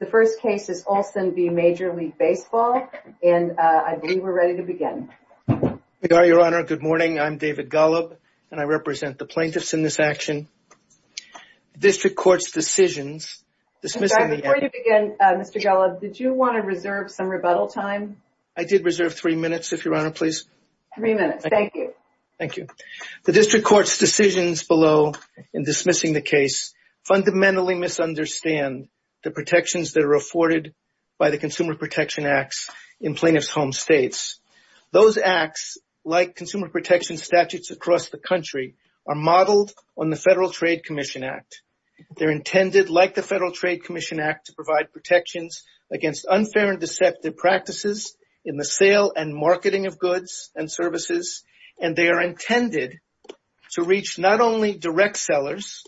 The first case is Olson v. Major League Baseball and I believe we're ready to begin. We are, Your Honor. Good morning. I'm David Golub and I represent the plaintiffs in this action. District Court's decisions dismissing... Before you begin, Mr. Golub, did you want to reserve some rebuttal time? I did reserve three minutes, if Your Honor, please. Three minutes. Thank you. Thank you. The District Court's decisions below in dismissing the case fundamentally misunderstand the protections that are afforded by the Consumer Protection Acts in plaintiff's home states. Those acts, like Consumer Protection Statutes across the country, are modeled on the Federal Trade Commission Act. They're intended, like the Federal Trade Commission Act, to provide protections against unfair and deceptive practices in the sale and marketing of goods and services, and they are intended to reach not only direct sellers,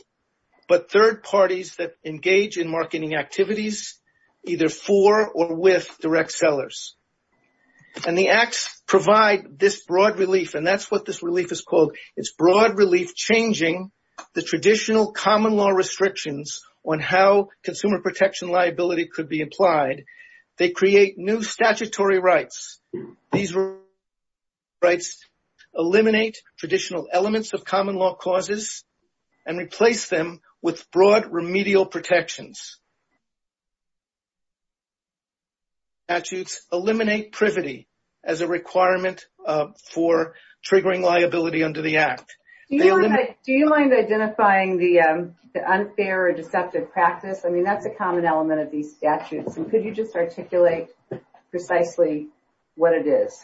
but third parties that engage in marketing activities, either for or with direct sellers. And the acts provide this broad relief, and that's what this relief is called. It's broad relief changing the traditional common law restrictions on how consumer protection liability could be applied. They create new statutory rights. These rights eliminate traditional elements of common law causes and replace them with broad remedial protections. Statutes eliminate privity as a requirement for triggering liability under the act. Do you mind identifying the unfair or deceptive practice? I mean, that's a common practice. Can you articulate precisely what it is?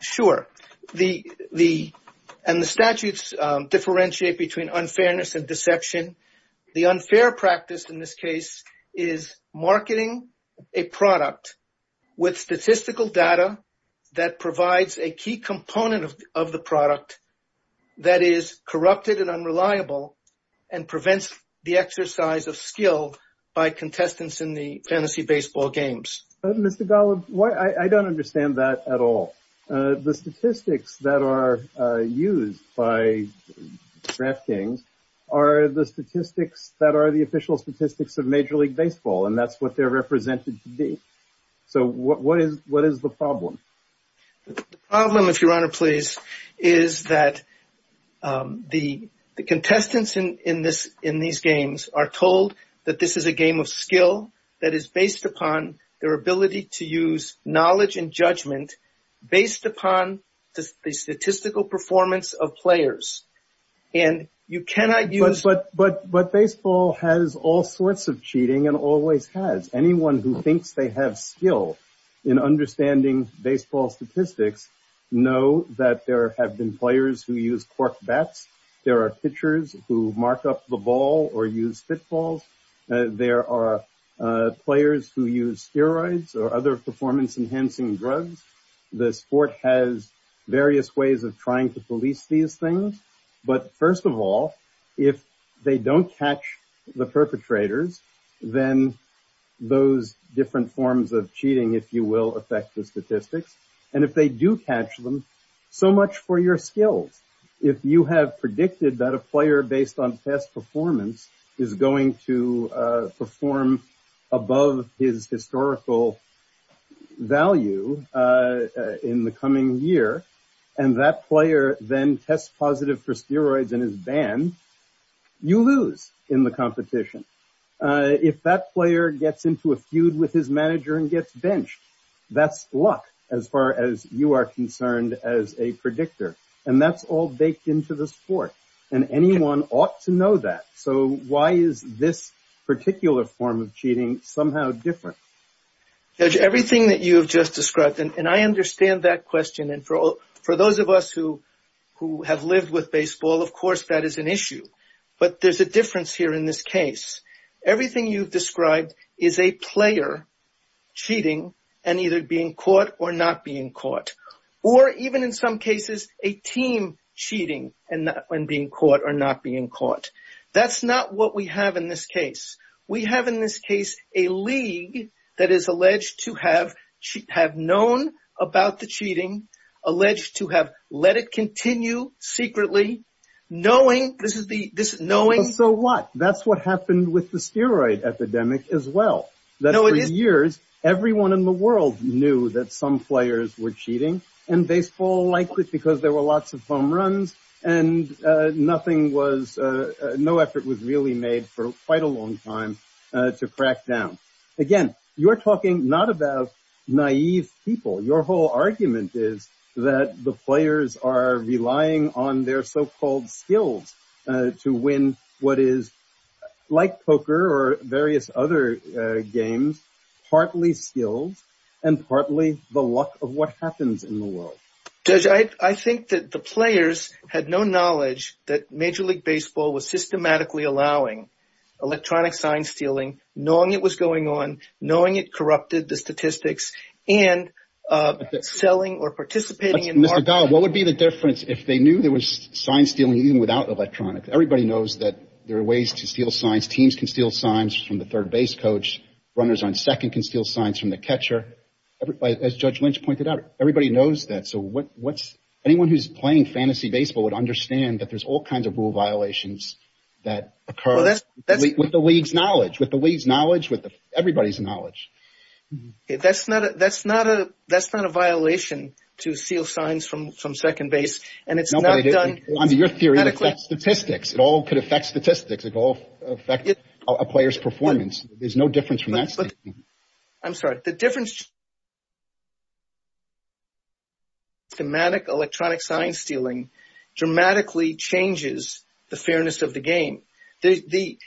Sure. And the statutes differentiate between unfairness and deception. The unfair practice in this case is marketing a product with statistical data that provides a key component of the product that is corrupted and unreliable and prevents the exercise of skill by contestants in the fantasy baseball games. Mr. Golub, I don't understand that at all. The statistics that are used by DraftKings are the statistics that are the official statistics of Major League Baseball, and that's what they're represented to be. So what is the problem? The problem, if Your Honor please, is that the contestants in these games are told that this is a game of skill that is based upon their ability to use knowledge and judgment based upon the statistical performance of players, and you cannot use... But baseball has all sorts of cheating and always has. Anyone who thinks they have skill in understanding baseball statistics know that there have been players who use cork bats. There are pitchers who mark up the ball or use pitfalls. There are players who use steroids or other performance-enhancing drugs. The sport has various ways of trying to police these things. But first of all, if they don't catch the perpetrators, then those different forms of cheating, if you will, affect the statistics. And if they do catch them, so much for your skills. If you have predicted that a player based on test performance is going to perform above his historical value in the coming year, and that player then tests positive for steroids and is banned, you lose in the competition. If that player gets into a feud with his manager and gets benched, that's luck as far as you are concerned as a predictor. And that's all baked into the sport, and anyone ought to know that. So why is this particular form of cheating somehow different? Judge, everything that you have just For those of us who have lived with baseball, of course that is an issue. But there's a difference here in this case. Everything you've described is a player cheating and either being caught or not being caught. Or even in some cases, a team cheating and being caught or not being caught. That's not what we have in this case. We have in this case a league that is alleged to have known about the cheating, alleged to have let it continue secretly, knowing... So what? That's what happened with the steroid epidemic as well. That for years, everyone in the world knew that some players were cheating. And baseball liked it because there were lots of home runs and no effort was really made for quite a long time to crack down. Again, you're talking not about naive people. Your whole argument is that the players are relying on their so-called skills to win what is, like poker or various other games, partly skills and partly the luck of what happens in the world. Judge, I think that the players had no knowledge that Major League Baseball was systematically allowing electronic sign-stealing, knowing it was going on, knowing it corrupted the statistics and selling or participating in... Mr. Gall, what would be the difference if they knew there was sign-stealing even without electronics? Everybody knows that there are ways to steal signs. Teams can steal signs from the third base coach. Runners on second can steal signs from the catcher. As Judge Lynch pointed out, everybody knows that. So what's... Anyone who's playing fantasy baseball would understand that there's all kinds of rule violations that occur with the league's knowledge, with the league's knowledge, with everybody's knowledge. That's not a violation to steal signs from second base and it's not done... Your theory affects statistics. It all could affect statistics. It could all affect a player's performance. There's no difference from that. I'm sorry. The difference... thematic electronic sign-stealing dramatically changes the fairness of the game.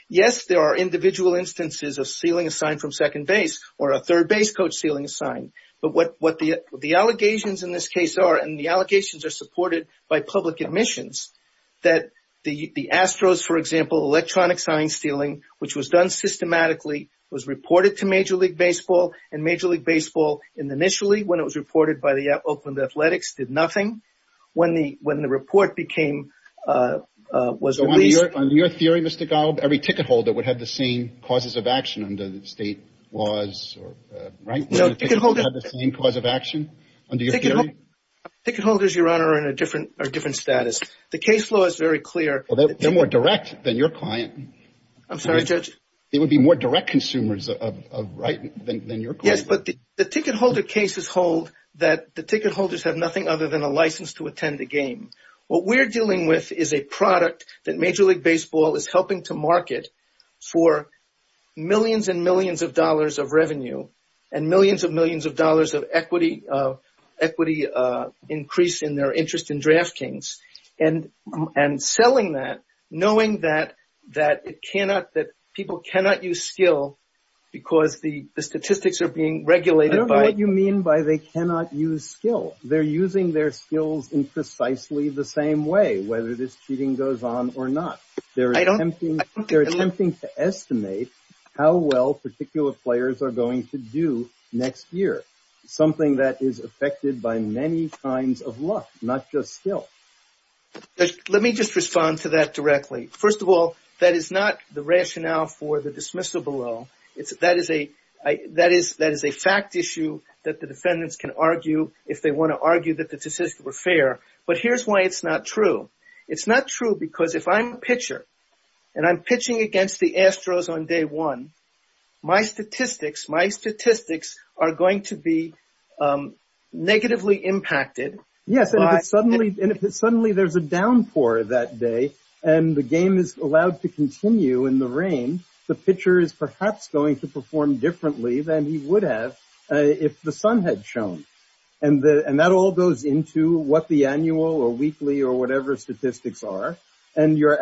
Yes, there are individual instances of stealing a sign from second base or a third base coach stealing a sign, but what the allegations in this case are, and the allegations are supported by public admissions, that the Astros, for example, electronic sign-stealing, which was done systematically, was reported to Major League Baseball and Major League Baseball, initially, when it was reported by the Oakland Athletics, did nothing. When the report became... On your theory, Mr. Galb, every ticket holder would have the same causes of action under the state laws, right? Ticket holders, Your Honor, are in a different status. The case law is very clear. They're more direct than your client. I'm sorry, Judge. They would be more direct consumers, right, than your client. Yes, but the ticket holder cases hold that the ticket holders have nothing other than a license to attend a game. What we're dealing with is a product that Major League Baseball is helping to market for millions and millions of dollars of revenue and millions and millions of dollars of equity increase in their interest in draftkings, and selling that, knowing that people cannot use skill because the statistics are being regulated by... I don't know what you mean by they cannot use skill. They're using their skills in precisely the same way, whether this cheating goes on or not. They're attempting to estimate how well particular players are going to do next year, something that is affected by many kinds of luck, not just skill. Let me just respond to that directly. First of all, that is not the rationale for the dismissal below. That is a fact issue that the defendants can argue if they want to argue that the decisions were fair, but here's why it's not true. It's not true because if I'm a pitcher and I'm pitching against the Astros on day one, my statistics are going to be negatively impacted. Yes, and if suddenly there's a downpour that day and the game is allowed to continue in the rain, the pitcher is perhaps going to perform differently than he would have if the sun had shone. And that all goes into what the annual or weekly or whatever statistics are, and your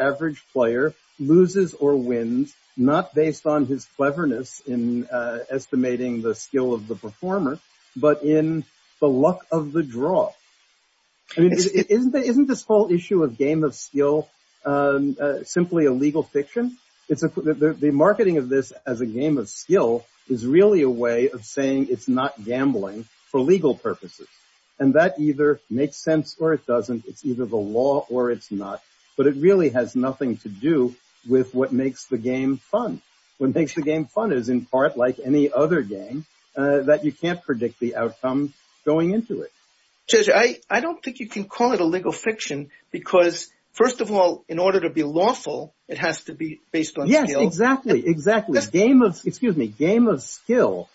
wins not based on his cleverness in estimating the skill of the performer, but in the luck of the draw. Isn't this whole issue of game of skill simply a legal fiction? The marketing of this as a game of skill is really a way of saying it's not gambling for legal purposes, and that either makes sense or it doesn't. It's either the law or it's not, but it really has nothing to do with what makes the game fun. What makes the game fun is in part like any other game that you can't predict the outcome going into it. Judge, I don't think you can call it a legal fiction because first of all, in order to be lawful, it has to be based on skill. Yes, exactly, exactly. Game of, excuse me, game of skill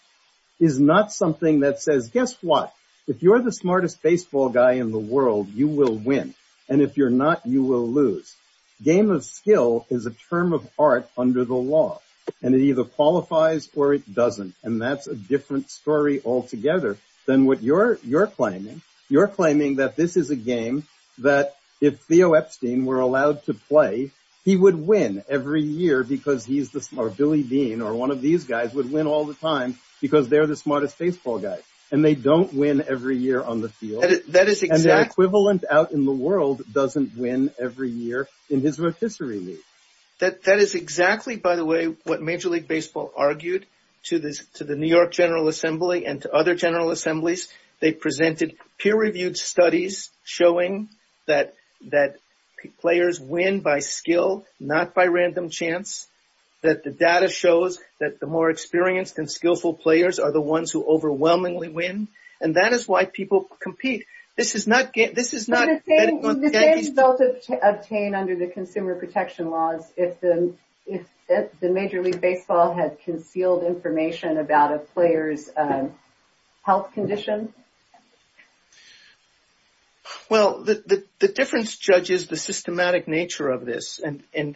is not something that says, guess what, if you're the smartest baseball guy in the world, you will win. And if you're not, you will lose. Game of skill is a term of art under the law, and it either qualifies or it doesn't. And that's a different story altogether than what you're claiming. You're claiming that this is a game that if Theo Epstein were allowed to play, he would win every year because he's the smart, or Billy Dean or one of these guys would win all the time because they're the smartest baseball guys, and they don't win every year on the field. And the equivalent out in the world doesn't win every year in his refusery league. That is exactly, by the way, what Major League Baseball argued to the New York General Assembly and to other General Assemblies. They presented peer-reviewed studies showing that players win by skill, not by random chance, that the data shows that the more experienced and skillful players are the ones who overwhelmingly win. And that is why people compete. This is not... This is not... Would the same result obtained under the consumer protection laws if the Major League Baseball had concealed information about a player's health condition? Well, the difference judges the systematic nature of this and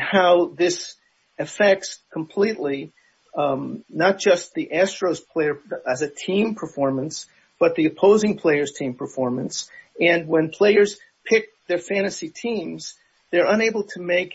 how this affects completely not just the Astros player as a team performance, but the opposing player's team performance. And when players pick their fantasy teams, they're unable to make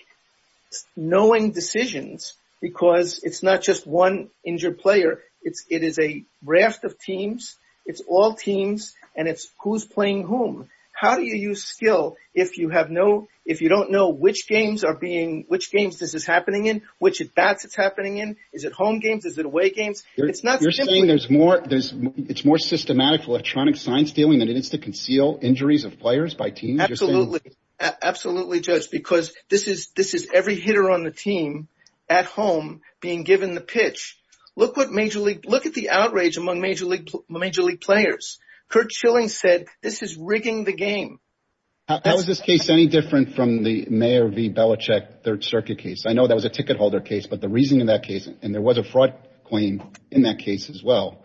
knowing decisions because it's not just one injured player. It is a raft of teams. It's all teams, and it's who's playing whom. How do you use skill if you have no... If you don't know which games are being... Which games this is happening in, which at-bats it's happening in? Is it home games? Is it away games? It's not simply... You're saying there's more... It's more systematic electronic science dealing than it is to conceal injuries of players by teams? Absolutely. Absolutely, Judge, because this is every hitter on the team at home being given the pitch. Look at the outrage among Major League players. Curt Chilling said, this is rigging the game. How is this case any different from the Mayer v. Belichick Third Circuit case? I know that was a ticket holder case, but the reason in that case, and there was a fraud claim in that case as well,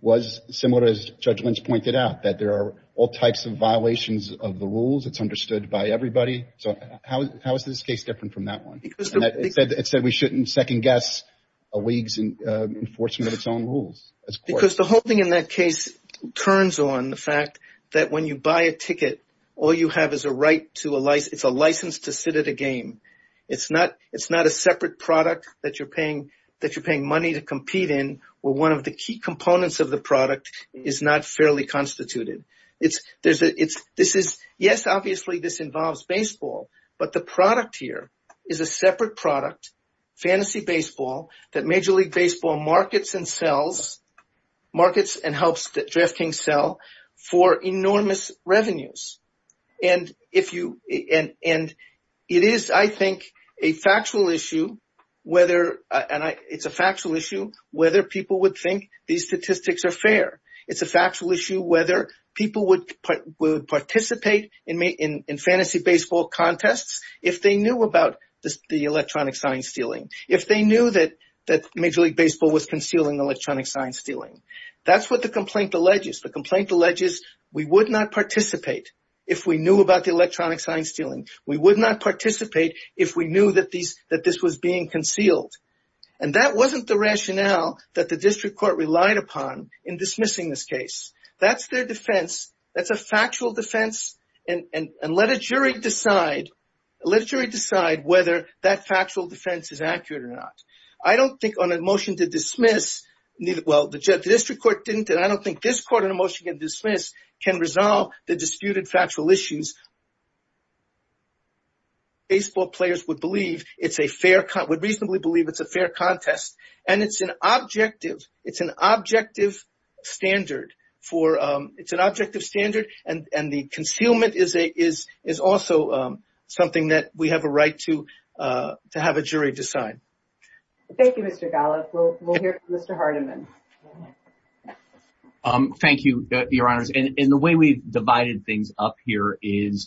was similar as Judge Lynch pointed out, that there are all types of violations of the rules. It's understood by everybody. So how is this case different from that one? It said we shouldn't second-guess a league's enforcement of its own rules as courts. The whole thing in that case turns on the fact that when you buy a ticket, all you have is a right to a license. It's a license to sit at a game. It's not a separate product that you're paying money to compete in where one of the key components of the product is not fairly constituted. Yes, obviously, this involves baseball, but the product here is a separate product, fantasy baseball, that Major League Baseball markets and sells, markets and helps DraftKings sell for enormous revenues. It is, I think, a factual issue whether people would think these statistics are fair. It's a factual issue whether people would participate in fantasy baseball contests if they knew about the electronic sign stealing, if they knew that Major League Baseball was concealing electronic sign stealing. That's what the complaint alleges. The complaint alleges we would not participate if we knew about the electronic sign stealing. We would not participate if we knew that this was being concealed. That wasn't the rationale that the district court relied upon in dismissing this case. That's their defense. That's a factual defense. Let a jury decide whether that factual defense is accurate or not. I don't think on a motion to dismiss, well, the district court didn't and I don't think this court on a motion to dismiss can resolve the disputed factual issues. Baseball players would believe it's a fair, would reasonably believe it's a fair contest, and it's an objective, it's an objective standard for, it's an objective standard, and the concealment is also something that we have a right to have a jury decide. Thank you, Mr. Golub. We'll hear from Mr. Hardiman. Thank you, your honors. The way we've divided things up here is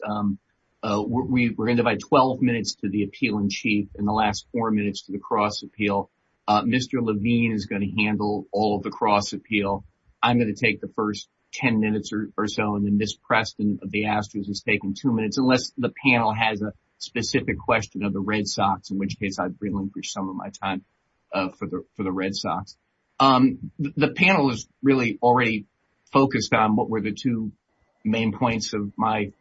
we're going to divide 12 minutes to the appeal in chief and the last four minutes to the cross appeal. Mr. Levine is going to handle all of the cross appeal. I'm going to take the first 10 minutes or so, and then Ms. Preston of the Astros is taking two minutes, unless the panel has a specific question of the Red Sox, in which case I'd relinquish some of my time for the Red Sox. The panel is really already focused on what were the two main points of my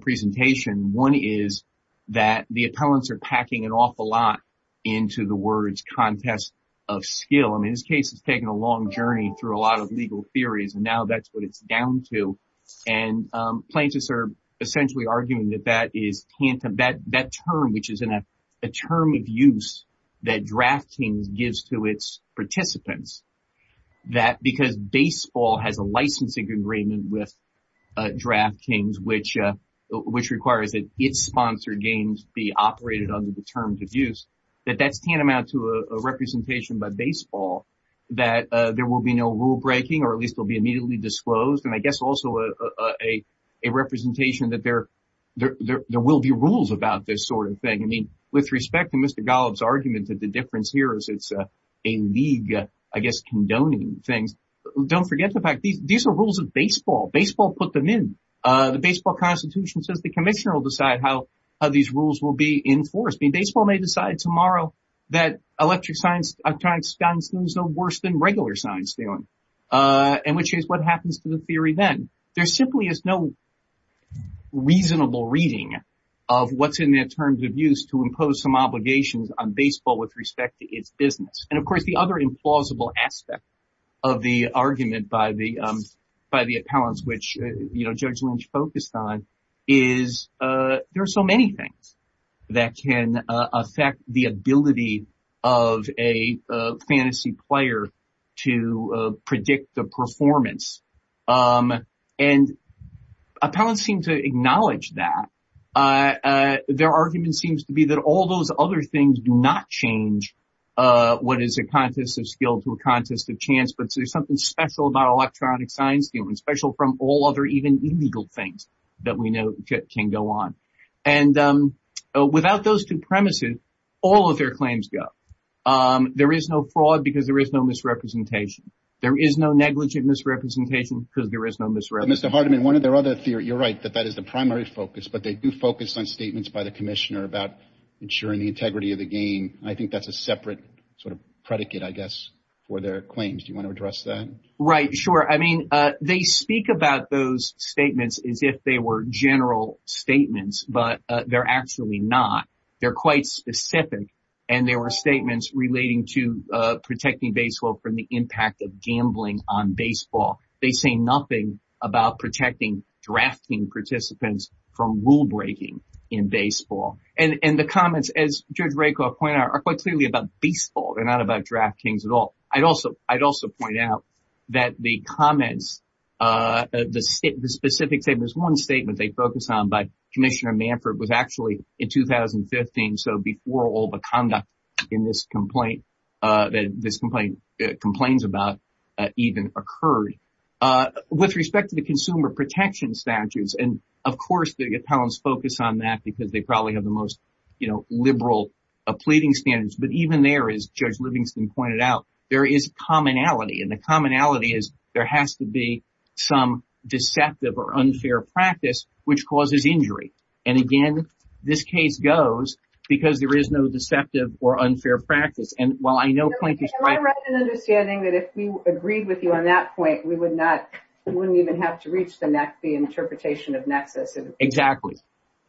presentation. One is that the appellants are packing an awful lot into the words contest of skill. I mean, this case has taken a long journey through a lot of legal theories, and now that's what it's down to, and plaintiffs are essentially arguing that that term, which is a term of use that DraftKings gives to its participants, that because baseball has a licensing agreement with DraftKings, which requires that its sponsored games be operated under the terms of use, that that's tantamount to a representation by baseball that there will be no rule breaking, or at least will be immediately disclosed. And I guess also a representation that there will be rules about this sort of thing. I mean, with respect to Mr. Golub's argument that the difference here is it's a league, I guess, condoning things. Don't forget the fact these are rules of baseball. Baseball put them in. The baseball constitution says the commissioner will decide how these rules will be enforced. I mean, baseball may decide tomorrow that electronic science is no worse than regular science, and which is what happens to the theory then. There simply is no reasonable reading of what's in their terms of use to impose some obligations on baseball with respect to its business. And of course, the other implausible aspect of the argument by the appellants, which Judge Lynch focused on, is there are so many things that can affect the ability of a fantasy player to predict the performance. And appellants seem to acknowledge that. Their argument seems to be that all those other things do not change what is a contest of skill to a contest of chance. But there's something special about electronic science, especially from all other even illegal things that we know can go on. And without those two premises, all of their claims go. There is no fraud because there is no misrepresentation. There is no negligent misrepresentation because there is no misrepresentation. Mr. Hardiman, one of their other theory, you're right, that that is the primary focus, but they do focus on statements by the commissioner about ensuring the integrity of the game. I think that's a separate sort of predicate, I guess, for their claims. Do you want to address that? Right. Sure. I mean, they speak about those statements as if they were general statements, but they're actually not. They're quite specific. And there were statements relating to protecting baseball from the impact of gambling on baseball. They say nothing about protecting drafting participants from rule breaking in baseball. And the comments, as Judge Rakoff pointed out, are quite clearly about baseball. They're not about drafting at baseball. I'd also point out that the comments, the specific statements, one statement they focus on by Commissioner Manford was actually in 2015, so before all the conduct in this complaint, that this complaint complains about, even occurred. With respect to the consumer protection statutes, and of course, the appellants focus on that because they probably have the most judge Livingston pointed out, there is commonality. And the commonality is there has to be some deceptive or unfair practice, which causes injury. And again, this case goes, because there is no deceptive or unfair practice. And while I know point is right, right, and understanding that if we agreed with you on that point, we would not, we wouldn't even have to reach the neck, the interpretation of nexus. Exactly.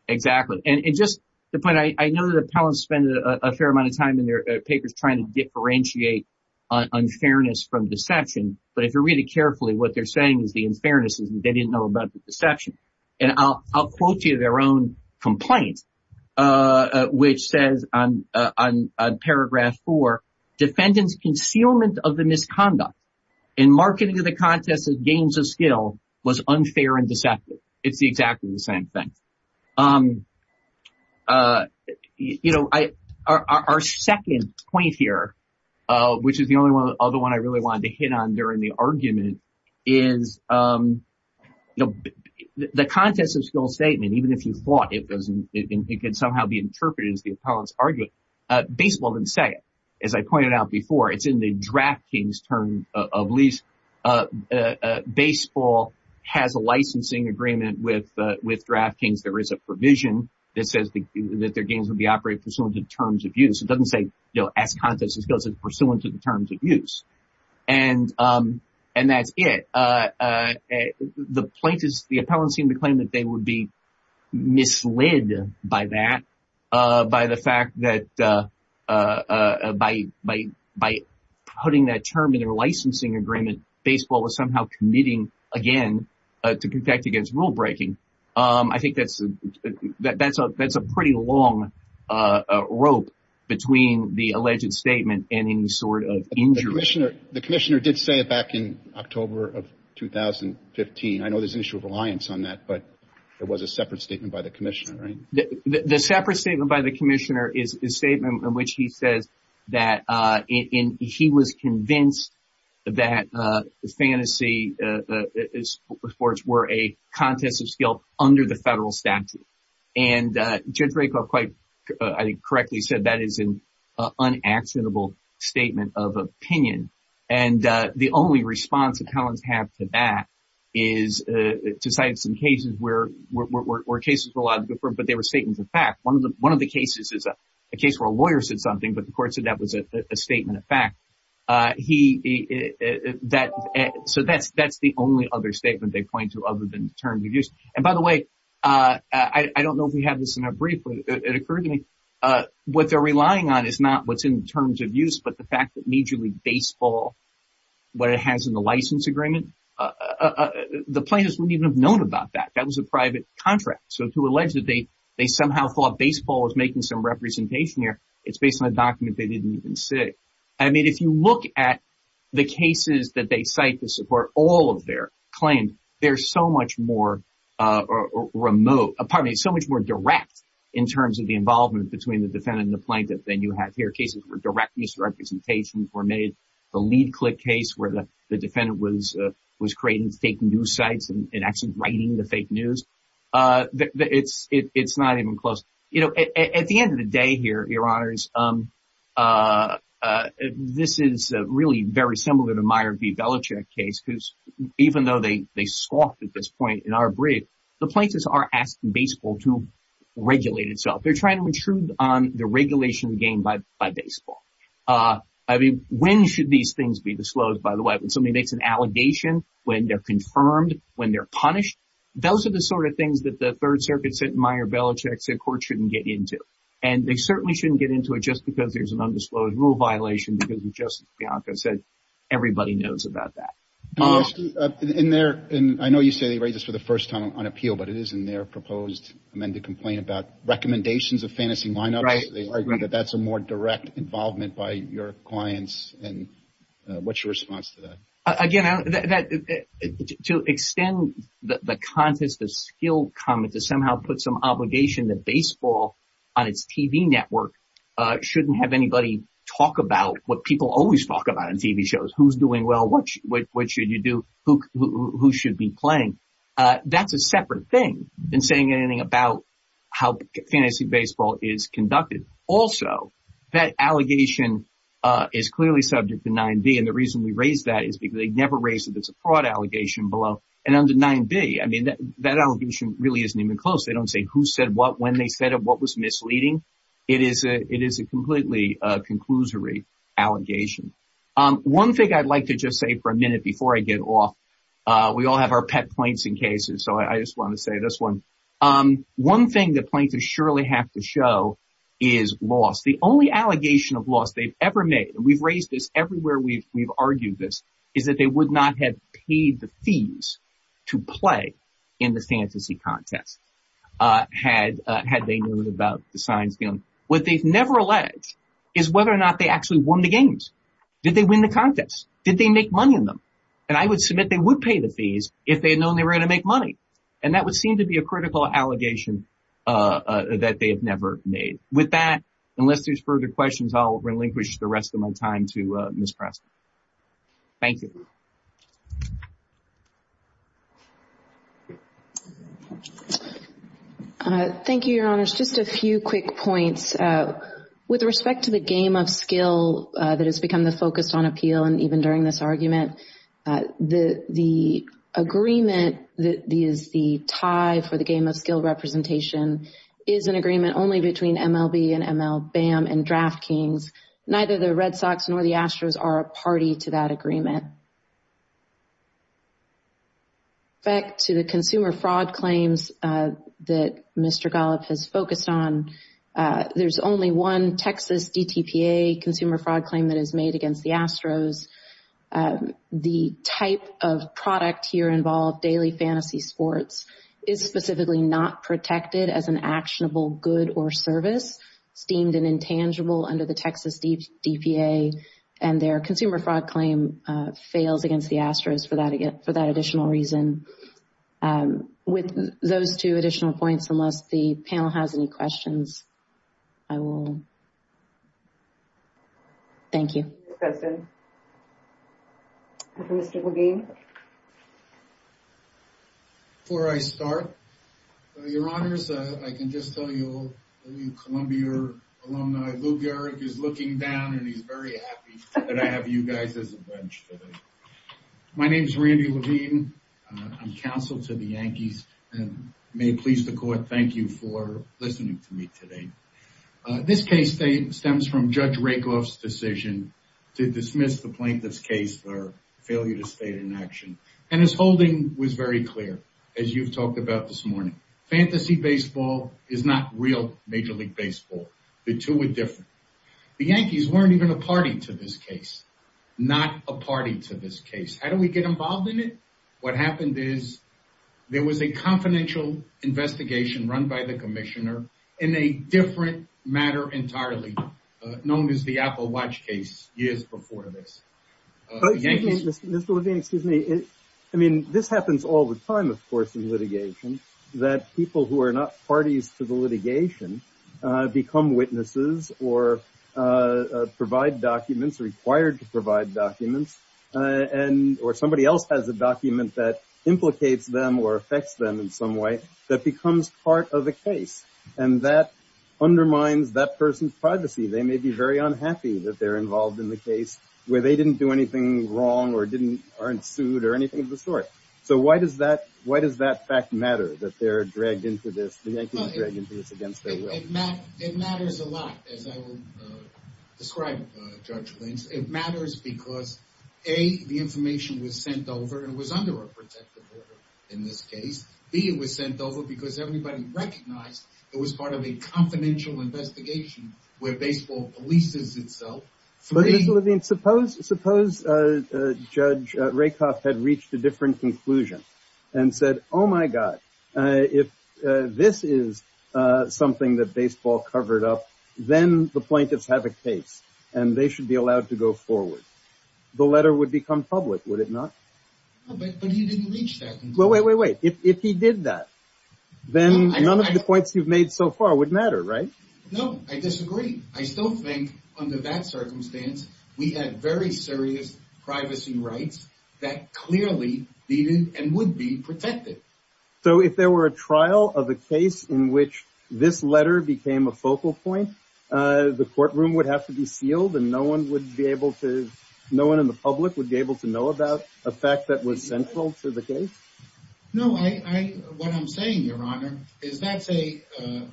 Exactly. And just the point, I know that appellants spend a fair amount of time in their papers trying to differentiate unfairness from deception. But if you read it carefully, what they're saying is the unfairness is that they didn't know about the deception. And I'll quote you their own complaint, which says on paragraph four, defendants concealment of the misconduct in marketing of the contest of games of skill was unfair and deceptive. It's exactly the same thing. You know, I, our second point here, which is the only one other one I really wanted to hit on during the argument is the contest of skill statement, even if you thought it doesn't, it can somehow be interpreted as the appellant's argument. Baseball didn't say as I pointed out before, it's in the draft king's term of lease. Baseball has a licensing agreement with draft kings. There is a provision that says that their games will be operated pursuant to terms of use. It doesn't say, you know, as contest of skills, it's pursuant to the terms of use. And that's it. The plaintiffs, the appellants seem to claim that they would be misled by that, by the fact that by putting that term in their licensing agreement, baseball was somehow committing again to contact against rule breaking. I think that's a pretty long rope between the alleged statement and any sort of injury. The commissioner did say it back in October of 2015. I know there's an issue of reliance on that, but it was a separate statement by the commissioner, right? The separate statement by the commissioner is a statement in which he says that he was convinced that fantasy sports were a contest of skill under the federal statute. And Judge Rakoff quite correctly said that is an unacceptable statement of opinion. And the only response appellants have to that is to cite some cases where cases were a lot different, but they court said that was a statement of fact. So that's the only other statement they point to other than the terms of use. And by the way, I don't know if we have this in a brief, but it occurred to me, what they're relying on is not what's in terms of use, but the fact that Major League Baseball, what it has in the license agreement, the plaintiffs wouldn't even have known about that. That was a private contract. So to allege that they somehow thought baseball was making some representation here, it's based on a document they didn't even say. I mean, if you look at the cases that they cite to support all of their claims, they're so much more remote, pardon me, so much more direct in terms of the involvement between the defendant and the plaintiff than you have here. Cases were direct misrepresentations were made. The lead click case where the defendant was creating fake news sites and actually writing the fake news. It's not even close. You know, at the end of the day here, your honors, this is really very similar to Meyer v. Belichick case, who's, even though they scoffed at this point in our brief, the plaintiffs are asking baseball to regulate itself. They're trying to intrude on the regulation of the game by baseball. I mean, when should these things be disclosed? By the way, when somebody makes an allegation, when they're confirmed, when they're punished, those are the sort of things that the Third Circuit said in Meyer v. Belichick said courts shouldn't get into. And they certainly shouldn't get into it just because there's an undisclosed rule violation because, as Justice Bianco said, everybody knows about that. I know you say they raised this for the first time on appeal, but it is in their proposed amended complaint about recommendations of fantasy lineups. They argue that that's a more direct involvement by your clients. And what's your response to that? Again, to extend the contest of skill comment to somehow put some obligation that baseball on its TV network shouldn't have anybody talk about what people always talk about in TV shows, who's doing well, what should you do, who should be playing. That's a separate thing than saying anything about how fantasy baseball is conducted. Also, that allegation is clearly subject to 9b. And the reason we raised that is because they never raised it. It's a fraud allegation below and under 9b. I mean, that allegation really isn't even close. They don't say who said what when they said what was misleading. It is a it is a completely conclusory allegation. One thing I'd like to just say for a minute before I get off, we all have our pet points in cases. So I just want to say this one. One thing that plaintiffs surely have to show is loss. The only allegation of loss they've made, and we've raised this everywhere we've argued this, is that they would not have paid the fees to play in the fantasy contest had they known about the science. What they've never alleged is whether or not they actually won the games. Did they win the contest? Did they make money in them? And I would submit they would pay the fees if they had known they were going to make money. And that would seem to be a critical allegation that they have never made. With that, unless there's further questions, I'll relinquish the rest of my time to Ms. Preston. Thank you. Thank you, Your Honors. Just a few quick points. With respect to the game of skill that has become the focus on appeal and even during this argument, the agreement that is the tie for the game of skill representation is an agreement only between MLB and MLBAM and DraftKings. Neither the Red Sox nor the Astros are a party to that agreement. Back to the consumer fraud claims that Mr. Golub has focused on, there's only one Texas DTPA consumer fraud claim that is made against the Astros. The type of product here involved, daily fantasy sports, is specifically not protected as an esteemed and intangible under the Texas DTPA. And their consumer fraud claim fails against the Astros for that additional reason. With those two additional points, unless the panel has any questions, I will. Thank you. Mr. McGee? Before I start, Your Honors, I can just tell you, Columbia alumni, Lou Gehrig is looking down and he's very happy that I have you guys as a bench today. My name is Randy Levine. I'm counsel to the Yankees and may it please the court, thank you for listening to me today. This case stems from Judge Rakoff's decision to dismiss the plaintiff's case for failure to stay in action. And his holding was very clear, as you've talked about this morning. Fantasy baseball is not real Major League Baseball. The two are different. The Yankees weren't even a party to this case, not a party to this case. How do we get involved in it? What happened is there was a confidential investigation run by the commissioner in a different matter entirely, known as the Apple Watch case years before this. Mr. Levine, excuse me. I mean, this happens all the time, of course, in litigation, that people who are not parties to the litigation become witnesses or provide documents, required to provide documents, and or somebody else has a document that implicates them or affects them in some way that becomes part of the case. And that undermines that person's privacy. They may be very unhappy that they're involved in the case where they didn't do anything wrong or aren't sued or anything of the sort. So why does that fact matter that they're dragged into this, the Yankees dragged into this against their will? It matters a lot, as I will describe, Judge Blanks. It matters because, A, the information was sent over and was under a case. B, it was sent over because everybody recognized it was part of a confidential investigation where baseball polices itself. But Mr. Levine, suppose Judge Rakoff had reached a different conclusion and said, oh my God, if this is something that baseball covered up, then the plaintiffs have a case and they should be allowed to go forward. The letter would become a focal point. If he did that, then none of the points you've made so far would matter, right? No, I disagree. I still think under that circumstance, we had very serious privacy rights that clearly needed and would be protected. So if there were a trial of a case in which this letter became a focal point, the courtroom would have to be sealed and no one would be able to, no one in the public would be able to know about a fact that was central to the case? No, what I'm saying, Your Honor, is that's a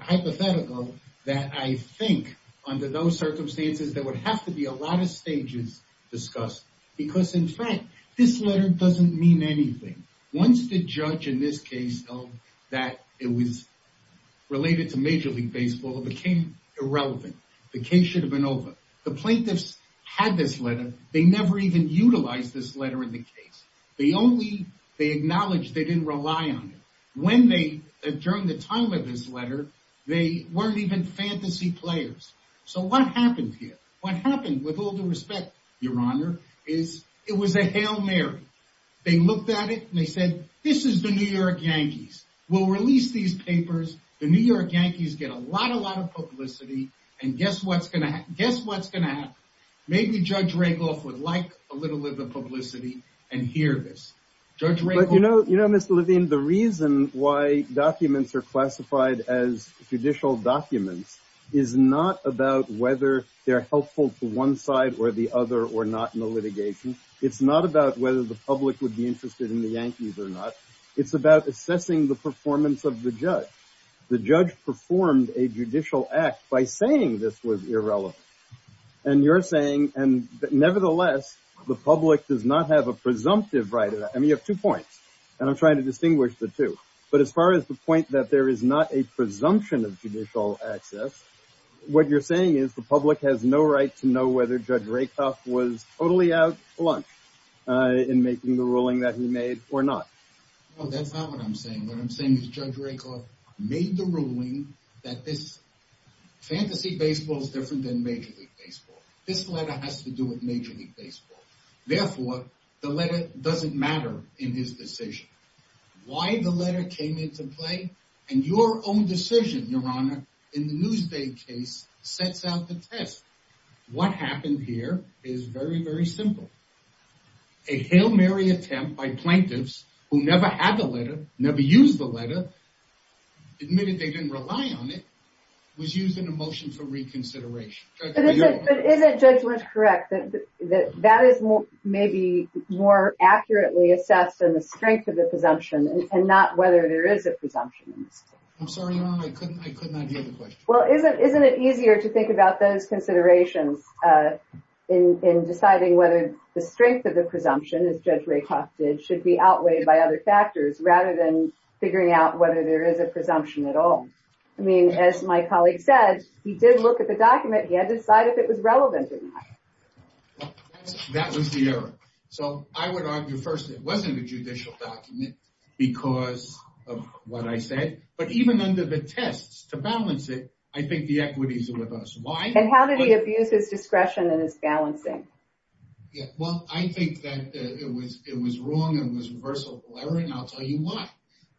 hypothetical that I think under those circumstances there would have to be a lot of stages discussed. Because in fact, this letter doesn't mean anything. Once the judge in this case felt that it was related to Major League Baseball, it became irrelevant. The case should have been over. The plaintiffs had this letter. They never even relied on it. During the time of this letter, they weren't even fantasy players. So what happened here? What happened, with all due respect, Your Honor, is it was a Hail Mary. They looked at it and they said, this is the New York Yankees. We'll release these papers. The New York Yankees get a lot of publicity. And guess what's going to happen? Maybe Judge Rayburn. You know, Mr. Levine, the reason why documents are classified as judicial documents is not about whether they're helpful to one side or the other or not in the litigation. It's not about whether the public would be interested in the Yankees or not. It's about assessing the performance of the judge. The judge performed a judicial act by saying this was irrelevant. And you're saying, and nevertheless, the public does not have a presumptive right. And you have two points. And I'm trying to distinguish the two. But as far as the point that there is not a presumption of judicial access, what you're saying is the public has no right to know whether Judge Rakoff was totally out for lunch in making the ruling that he made or not. Well, that's not what I'm saying. What I'm saying is Judge Rakoff made the ruling that this fantasy baseball is different than Major League Baseball. This letter has to do with in his decision. Why the letter came into play and your own decision, Your Honor, in the Newsday case sets out the test. What happened here is very, very simple. A Hail Mary attempt by plaintiffs who never had the letter, never used the letter, admitted they didn't rely on it, was used in a motion for reconsideration. But isn't Judge Lynch correct that that is maybe more accurately assessed in the strength of the presumption and not whether there is a presumption? I'm sorry, Your Honor, I could not hear the question. Well, isn't it easier to think about those considerations in deciding whether the strength of the presumption, as Judge Rakoff did, should be outweighed by other factors rather than figuring out whether there is a presumption at all? I mean, as my colleague said, he did look at the document. He had to decide if it was relevant or not. That was the error. So I would argue, first, it wasn't a judicial document because of what I said, but even under the tests to balance it, I think the equities are with us. Why? And how did he abuse his discretion and his balancing? Yeah, well, I think that it was wrong and it was a reversal of the letter, and I'll tell you why.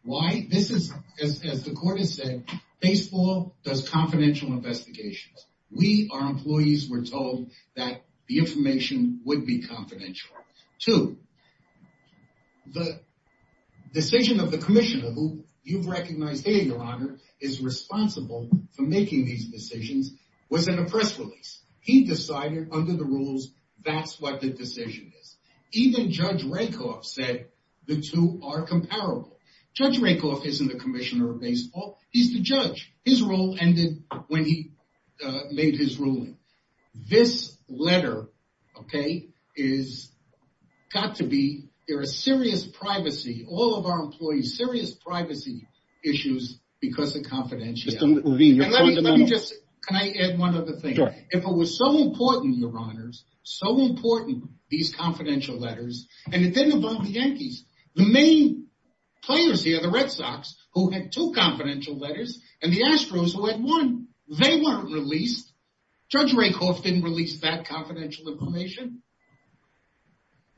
Why? This is, as the court has said, baseball does confidential investigations. We, our employees, were told that the information would be confidential. Two, the decision of the commissioner, who you've recognized here, Your Honor, is responsible for making these decisions, was in a press release. He decided under the rules that's what the decision is. Even Judge Rakoff said the two are comparable. Judge Rakoff isn't the commissioner of baseball. He's the judge. His role ended when he made his ruling. This letter, okay, is got to be, there is serious privacy, all of our employees, serious privacy issues because of confidentiality. Mr. Levine, your point of memo. Can I add one other thing? Sure. If it was so important, Your Honors, so important, these confidential letters, and it didn't involve the Yankees. The main players here, the Red Sox, who had two confidential letters, and the Astros, who had one, they weren't released. Judge Rakoff didn't release that confidential information.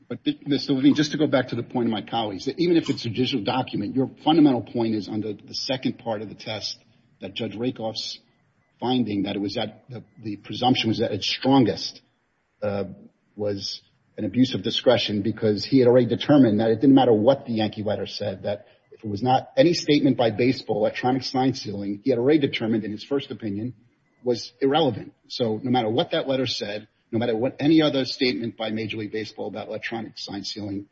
But, Mr. Levine, just to go back to the point of my colleagues, even if it's a digital document, your fundamental point is under the second part of the test that Judge Rakoff's finding that the presumption was at its strongest was an abuse of discretion because he had already determined that it didn't matter what the Yankee letter said, that if it was not any statement by baseball, electronic sign sealing, he had already determined in his first opinion was irrelevant. So no matter what that letter said, no matter what any other statement by Major League Baseball about electronic sign sealing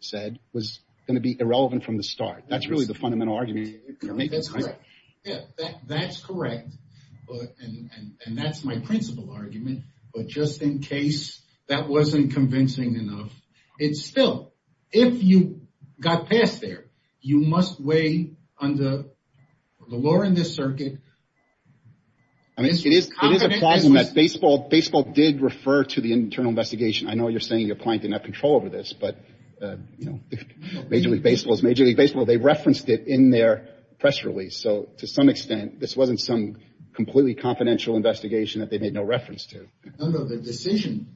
said, was going to be irrelevant from the start. That's really the fundamental argument. That's correct, and that's my principal argument, but just in case that wasn't convincing enough, it's still, if you got past there, you must weigh under the law in this circuit. I mean, it is a problem that baseball did refer to the internal investigation. I know you're saying your client didn't have control over this, but Major League Baseball is Major League Baseball. They referenced it in their press release. So to some extent, this wasn't some completely confidential investigation that they made no reference to. No, no, the decision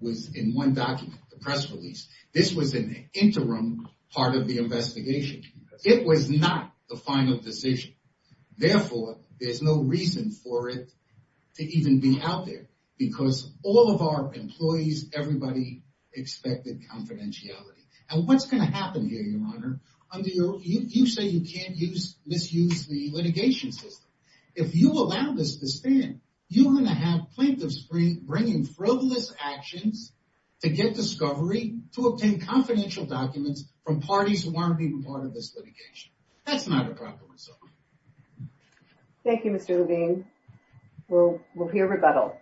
was in one document, the press release. This was an interim part of the investigation. It was not the final decision. Therefore, there's no reason for it to even be out there, because all of our employees, everybody expected confidentiality. And what's going to happen here, Your Honor, under your, you say you can't misuse the litigation system. If you allow this to stand, you're going to have plaintiffs bringing frivolous actions to get discovery, to obtain confidential documents from parties who aren't even part of this litigation. That's not a proper result. Thank you, Mr. Levine. We'll hear rebuttal.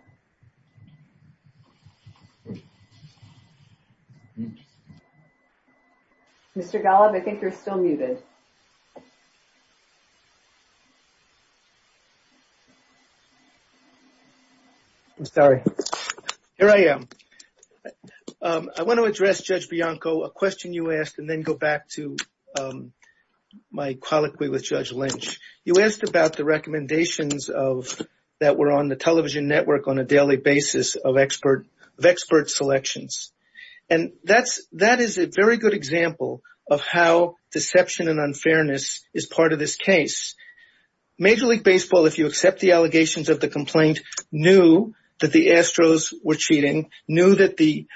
Mr. Golub, I think you're still muted. I'm sorry. Here I am. I want to address Judge Bianco a question you asked, and then go back to my colloquy with Judge Lynch. You asked about the recommendations that were on the television network on a daily basis of expert selections. And that is a very good example of how deception and unfairness is part of this case. Major League Baseball, if you accept the allegations of the complaint, knew that the Astros were cheating, knew that the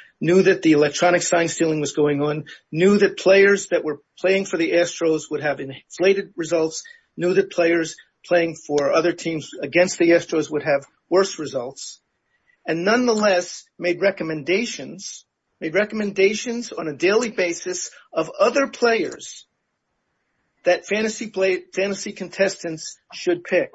electronic sign stealing was going on, knew that players that were playing for the Astros would have inflated results, knew that players playing for other teams against the Astros would have worse results, and nonetheless made recommendations on a daily basis of other players that fantasy contestants should pick.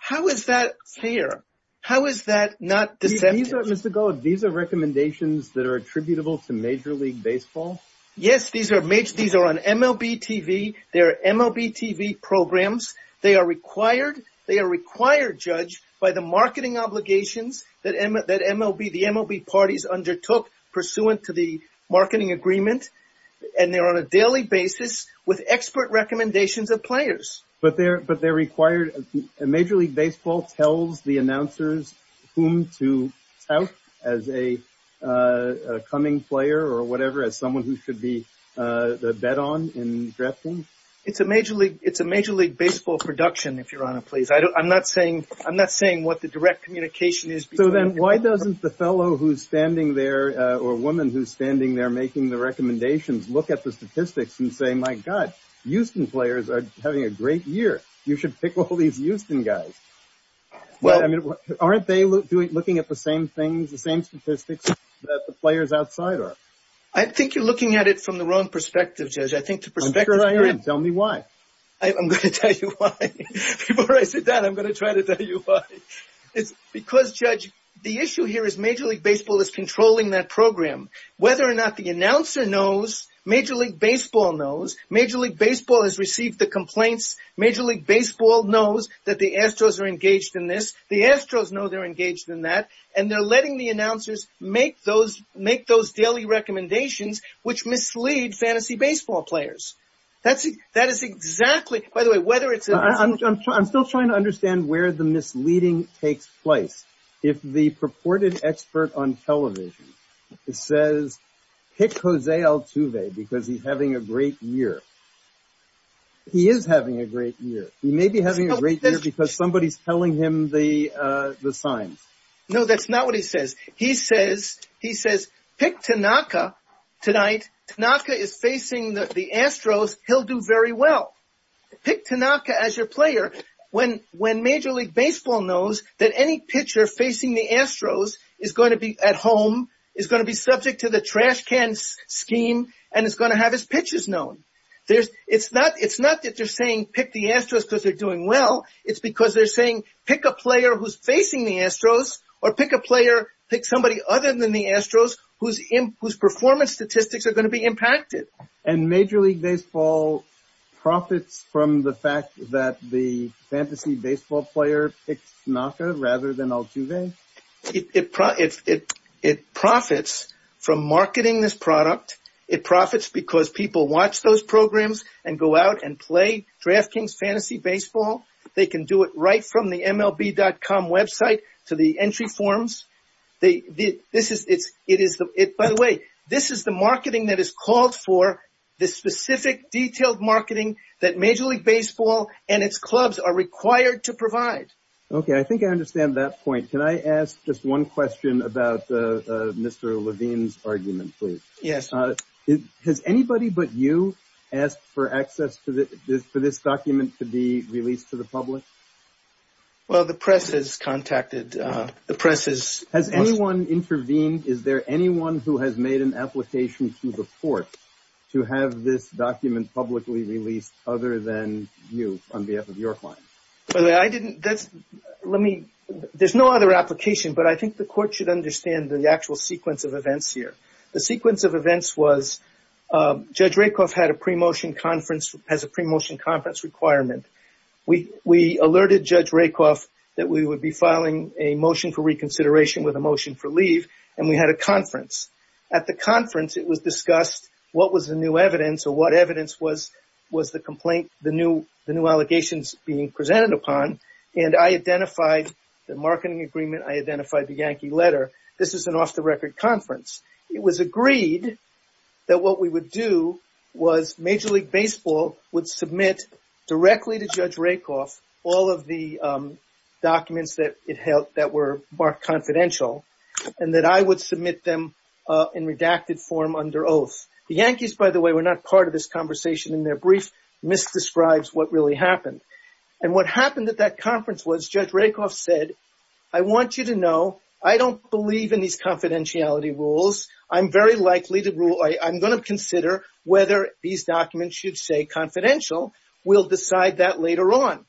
How is that fair? How is that not deceptive? Mr. Golub, these are recommendations that are attributable to Major League Baseball? Yes, these are on MLB TV. They're MLB TV programs. They are required. by the marketing obligations that the MLB parties undertook pursuant to the marketing agreement. And they're on a daily basis with expert recommendations of players. But they're required. Major League Baseball tells the announcers whom to tout as a coming player or whatever, as someone who should be the bet on in drafting? It's a Major League Baseball production, if Your Honor, please. I'm not saying what the direct communication is. So then why doesn't the fellow who's standing there, or woman who's standing there making the recommendations, look at the statistics and say, my God, Houston players are having a great year. You should pick all these Houston guys. Aren't they looking at the same things, the same statistics that the players outside are? I think you're looking at it from the wrong perspective, Judge. I think the perspective... I'm sure I am. Tell me why. I'm going to tell you why. Before I say that, I'm going to try to tell you why. It's because, Judge, the issue here is Major League Baseball is controlling that program. Whether or not the announcer knows, Major League Baseball knows. Major League Baseball has received the complaints. Major League Baseball knows that the Astros are engaged in this. The Astros know they're engaged in that. And they're letting the announcers make those daily recommendations, which mislead fantasy baseball players. That is exactly... By the way, whether it's... I'm still trying to understand where the misleading takes place. If the purported expert on television says, pick Jose Altuve because he's having a great year. He is having a great year. He may be having a great year because somebody's telling him the signs. No, that's not what he says. He says, pick Tanaka tonight. Tanaka is facing the Astros. He'll do very well. Pick Tanaka as your player when Major League Baseball knows that any pitcher facing the Astros is going to be at home, is going to be subject to the trash can scheme, and is going to have his pitches known. It's not that they're saying pick the Astros because they're doing well. It's because they're saying, pick a player who's facing the Astros or pick a player, pick somebody other than the Astros whose performance statistics are going to be impacted. Major League Baseball profits from the fact that the fantasy baseball player picked Tanaka rather than Altuve? It profits from marketing this product. It profits because people watch those programs and go out and play DraftKings Fantasy Baseball. They can do it right from the MLB.com website to the entry forms. By the way, this is the marketing that is called for, this specific detailed marketing that Major League Baseball and its clubs are required to provide. Okay, I think I understand that point. Can I ask just one question about Mr. Levine's argument, please? Yes. Has anybody but you asked for access for this document to be released to the public? Well, the press has contacted, the press has... Has anyone intervened? Is there anyone who has made an application to the court to have this document publicly released other than you on behalf of your client? Let me, there's no other application, but I think the court should understand the actual sequence of events here. The sequence of events was, Judge Rakoff had a pre-motion conference, has a pre-motion conference requirement. We alerted Judge Rakoff that we would be filing a motion for reconsideration with a motion for leave and we had a conference. At the conference, it was discussed what was the new evidence or what evidence was the complaint, the new allegations being presented upon and I identified the marketing agreement, I identified the Yankee letter. This is an off-the-record conference. It was agreed that what we would do was Major League Baseball would submit directly to Judge Rakoff all of the documents that were marked confidential and that I would submit them in redacted form under oath. The Yankees, by the way, were not part of this conversation in their brief, misdescribes what really happened. And what happened at that conference was Judge Rakoff said, I want you to know, I don't believe in these confidentiality rules. I'm very likely to rule, I'm going to consider whether these documents should stay confidential. We'll decide that later on.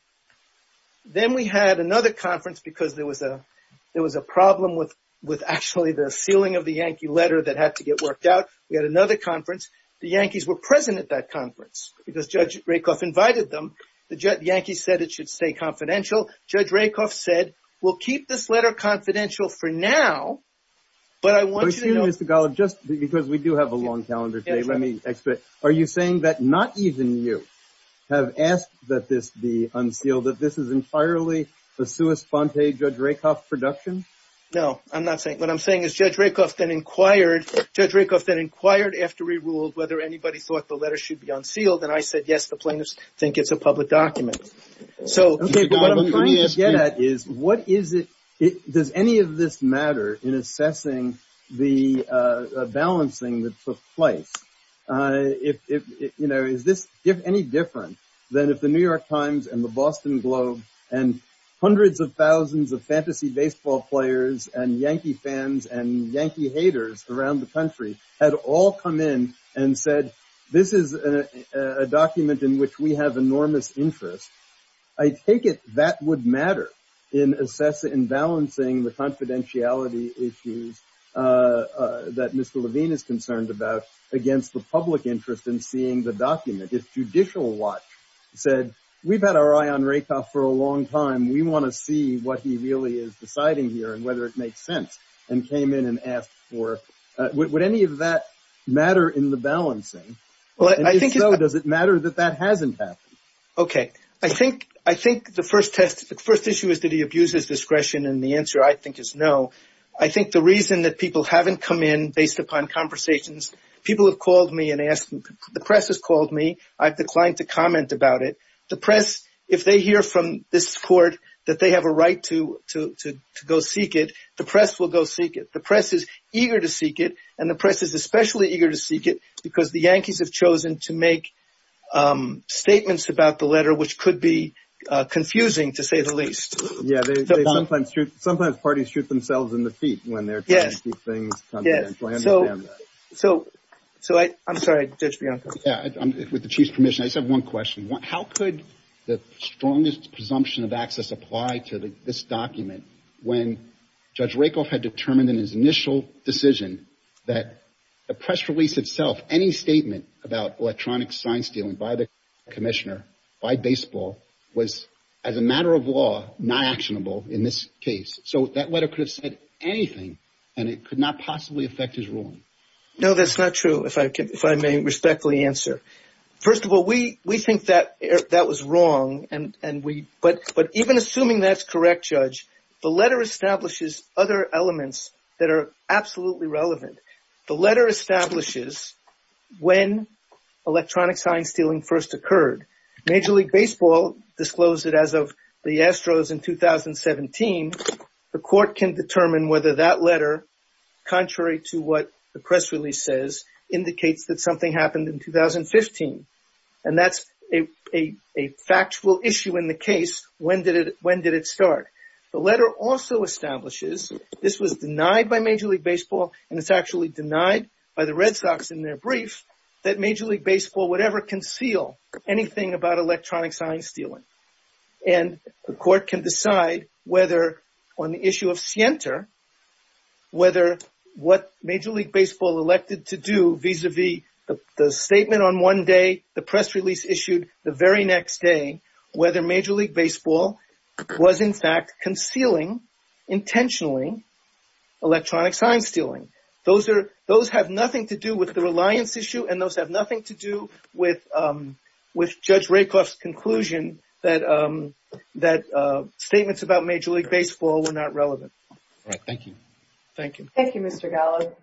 Then we had another conference because there was a problem with actually the sealing of the Yankee letter that had to get worked out. We had another conference. The Yankees were present at that conference because Judge Rakoff invited them. The Yankees said it should stay confidential. Judge Rakoff said, we'll keep this letter confidential for now, but I want you to know- Let me explain. Are you saying that not even you have asked that this be unsealed, that this is entirely a sua sponte Judge Rakoff production? No, I'm not saying, what I'm saying is Judge Rakoff then inquired, Judge Rakoff then inquired after we ruled whether anybody thought the letter should be unsealed. And I said, yes, the plaintiffs think it's a public document. So what I'm trying to get at is, what is it, does any of this matter in assessing the balancing that took place? Is this any different than if the New York Times and the Boston Globe and hundreds of thousands of fantasy baseball players and Yankee fans and Yankee haters around the country had all come in and said, this is a document in which we have enormous interest. I take it that would matter in assessing, in balancing the confidentiality issues that Mr. Levine is concerned about against the public interest in seeing the document. If Judicial Watch said, we've had our eye on Rakoff for a long time, we want to see what he really is deciding here and whether it makes sense and came in and asked for, would any of that matter in the balancing? And if so, does it matter that that hasn't happened? Okay, I think the first test, the first issue is that he abuses discretion and the answer I think is no. I think the reason that people haven't come in based upon conversations, people have called me and asked, the press has called me, I've declined to comment about it. The press, if they hear from this court that they have a right to go seek it, the press will go seek it. The press is eager to seek it and the press is especially eager to seek it because the Yankees have chosen to make statements about the letter, which could be confusing to say the least. Yeah, sometimes parties shoot themselves in the feet when they're trying to seek things confidential. I understand that. So, I'm sorry, Judge Bianco. Yeah, with the Chief's permission, I just have one question. How could the strongest presumption of access apply to this document when Judge Rakoff had determined in his initial decision that the press release itself, any statement about electronic sign stealing by the commissioner, by baseball, was, as a matter of law, not actionable in this case? So, that letter could have said anything and it could not possibly affect his ruling. No, that's not true, if I may respectfully answer. First of all, we think that that was wrong but even assuming that's correct, Judge, the letter establishes other elements that are absolutely relevant. The letter establishes when electronic sign stealing first occurred. Major League Baseball disclosed it as of the Astros in 2017. The court can determine whether that letter, contrary to what the press release says, indicates that something happened in 2015 and that's a factual issue in the case. When did it start? The letter also establishes this was denied by Major League Baseball and it's actually denied by the Red Sox in their brief that Major League Baseball would ever conceal anything about electronic sign stealing. And the court can decide whether on the issue of Sienta, whether what Major League Baseball elected to do vis-a-vis the statement on one day, the press release issued the very next day, whether Major League Baseball was in fact concealing intentionally electronic sign stealing. Those have nothing to do with the reliance issue and those have nothing to do with Judge Rakoff's conclusion that statements about Major League Baseball were not relevant. All right. Thank you. Thank you. Thank you, Mr. Gallo.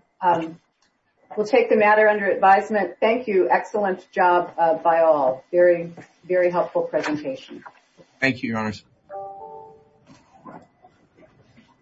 We'll take the matter under advisement. Thank you. Excellent job by all. Very, very helpful presentation. Thank you, Your Honors.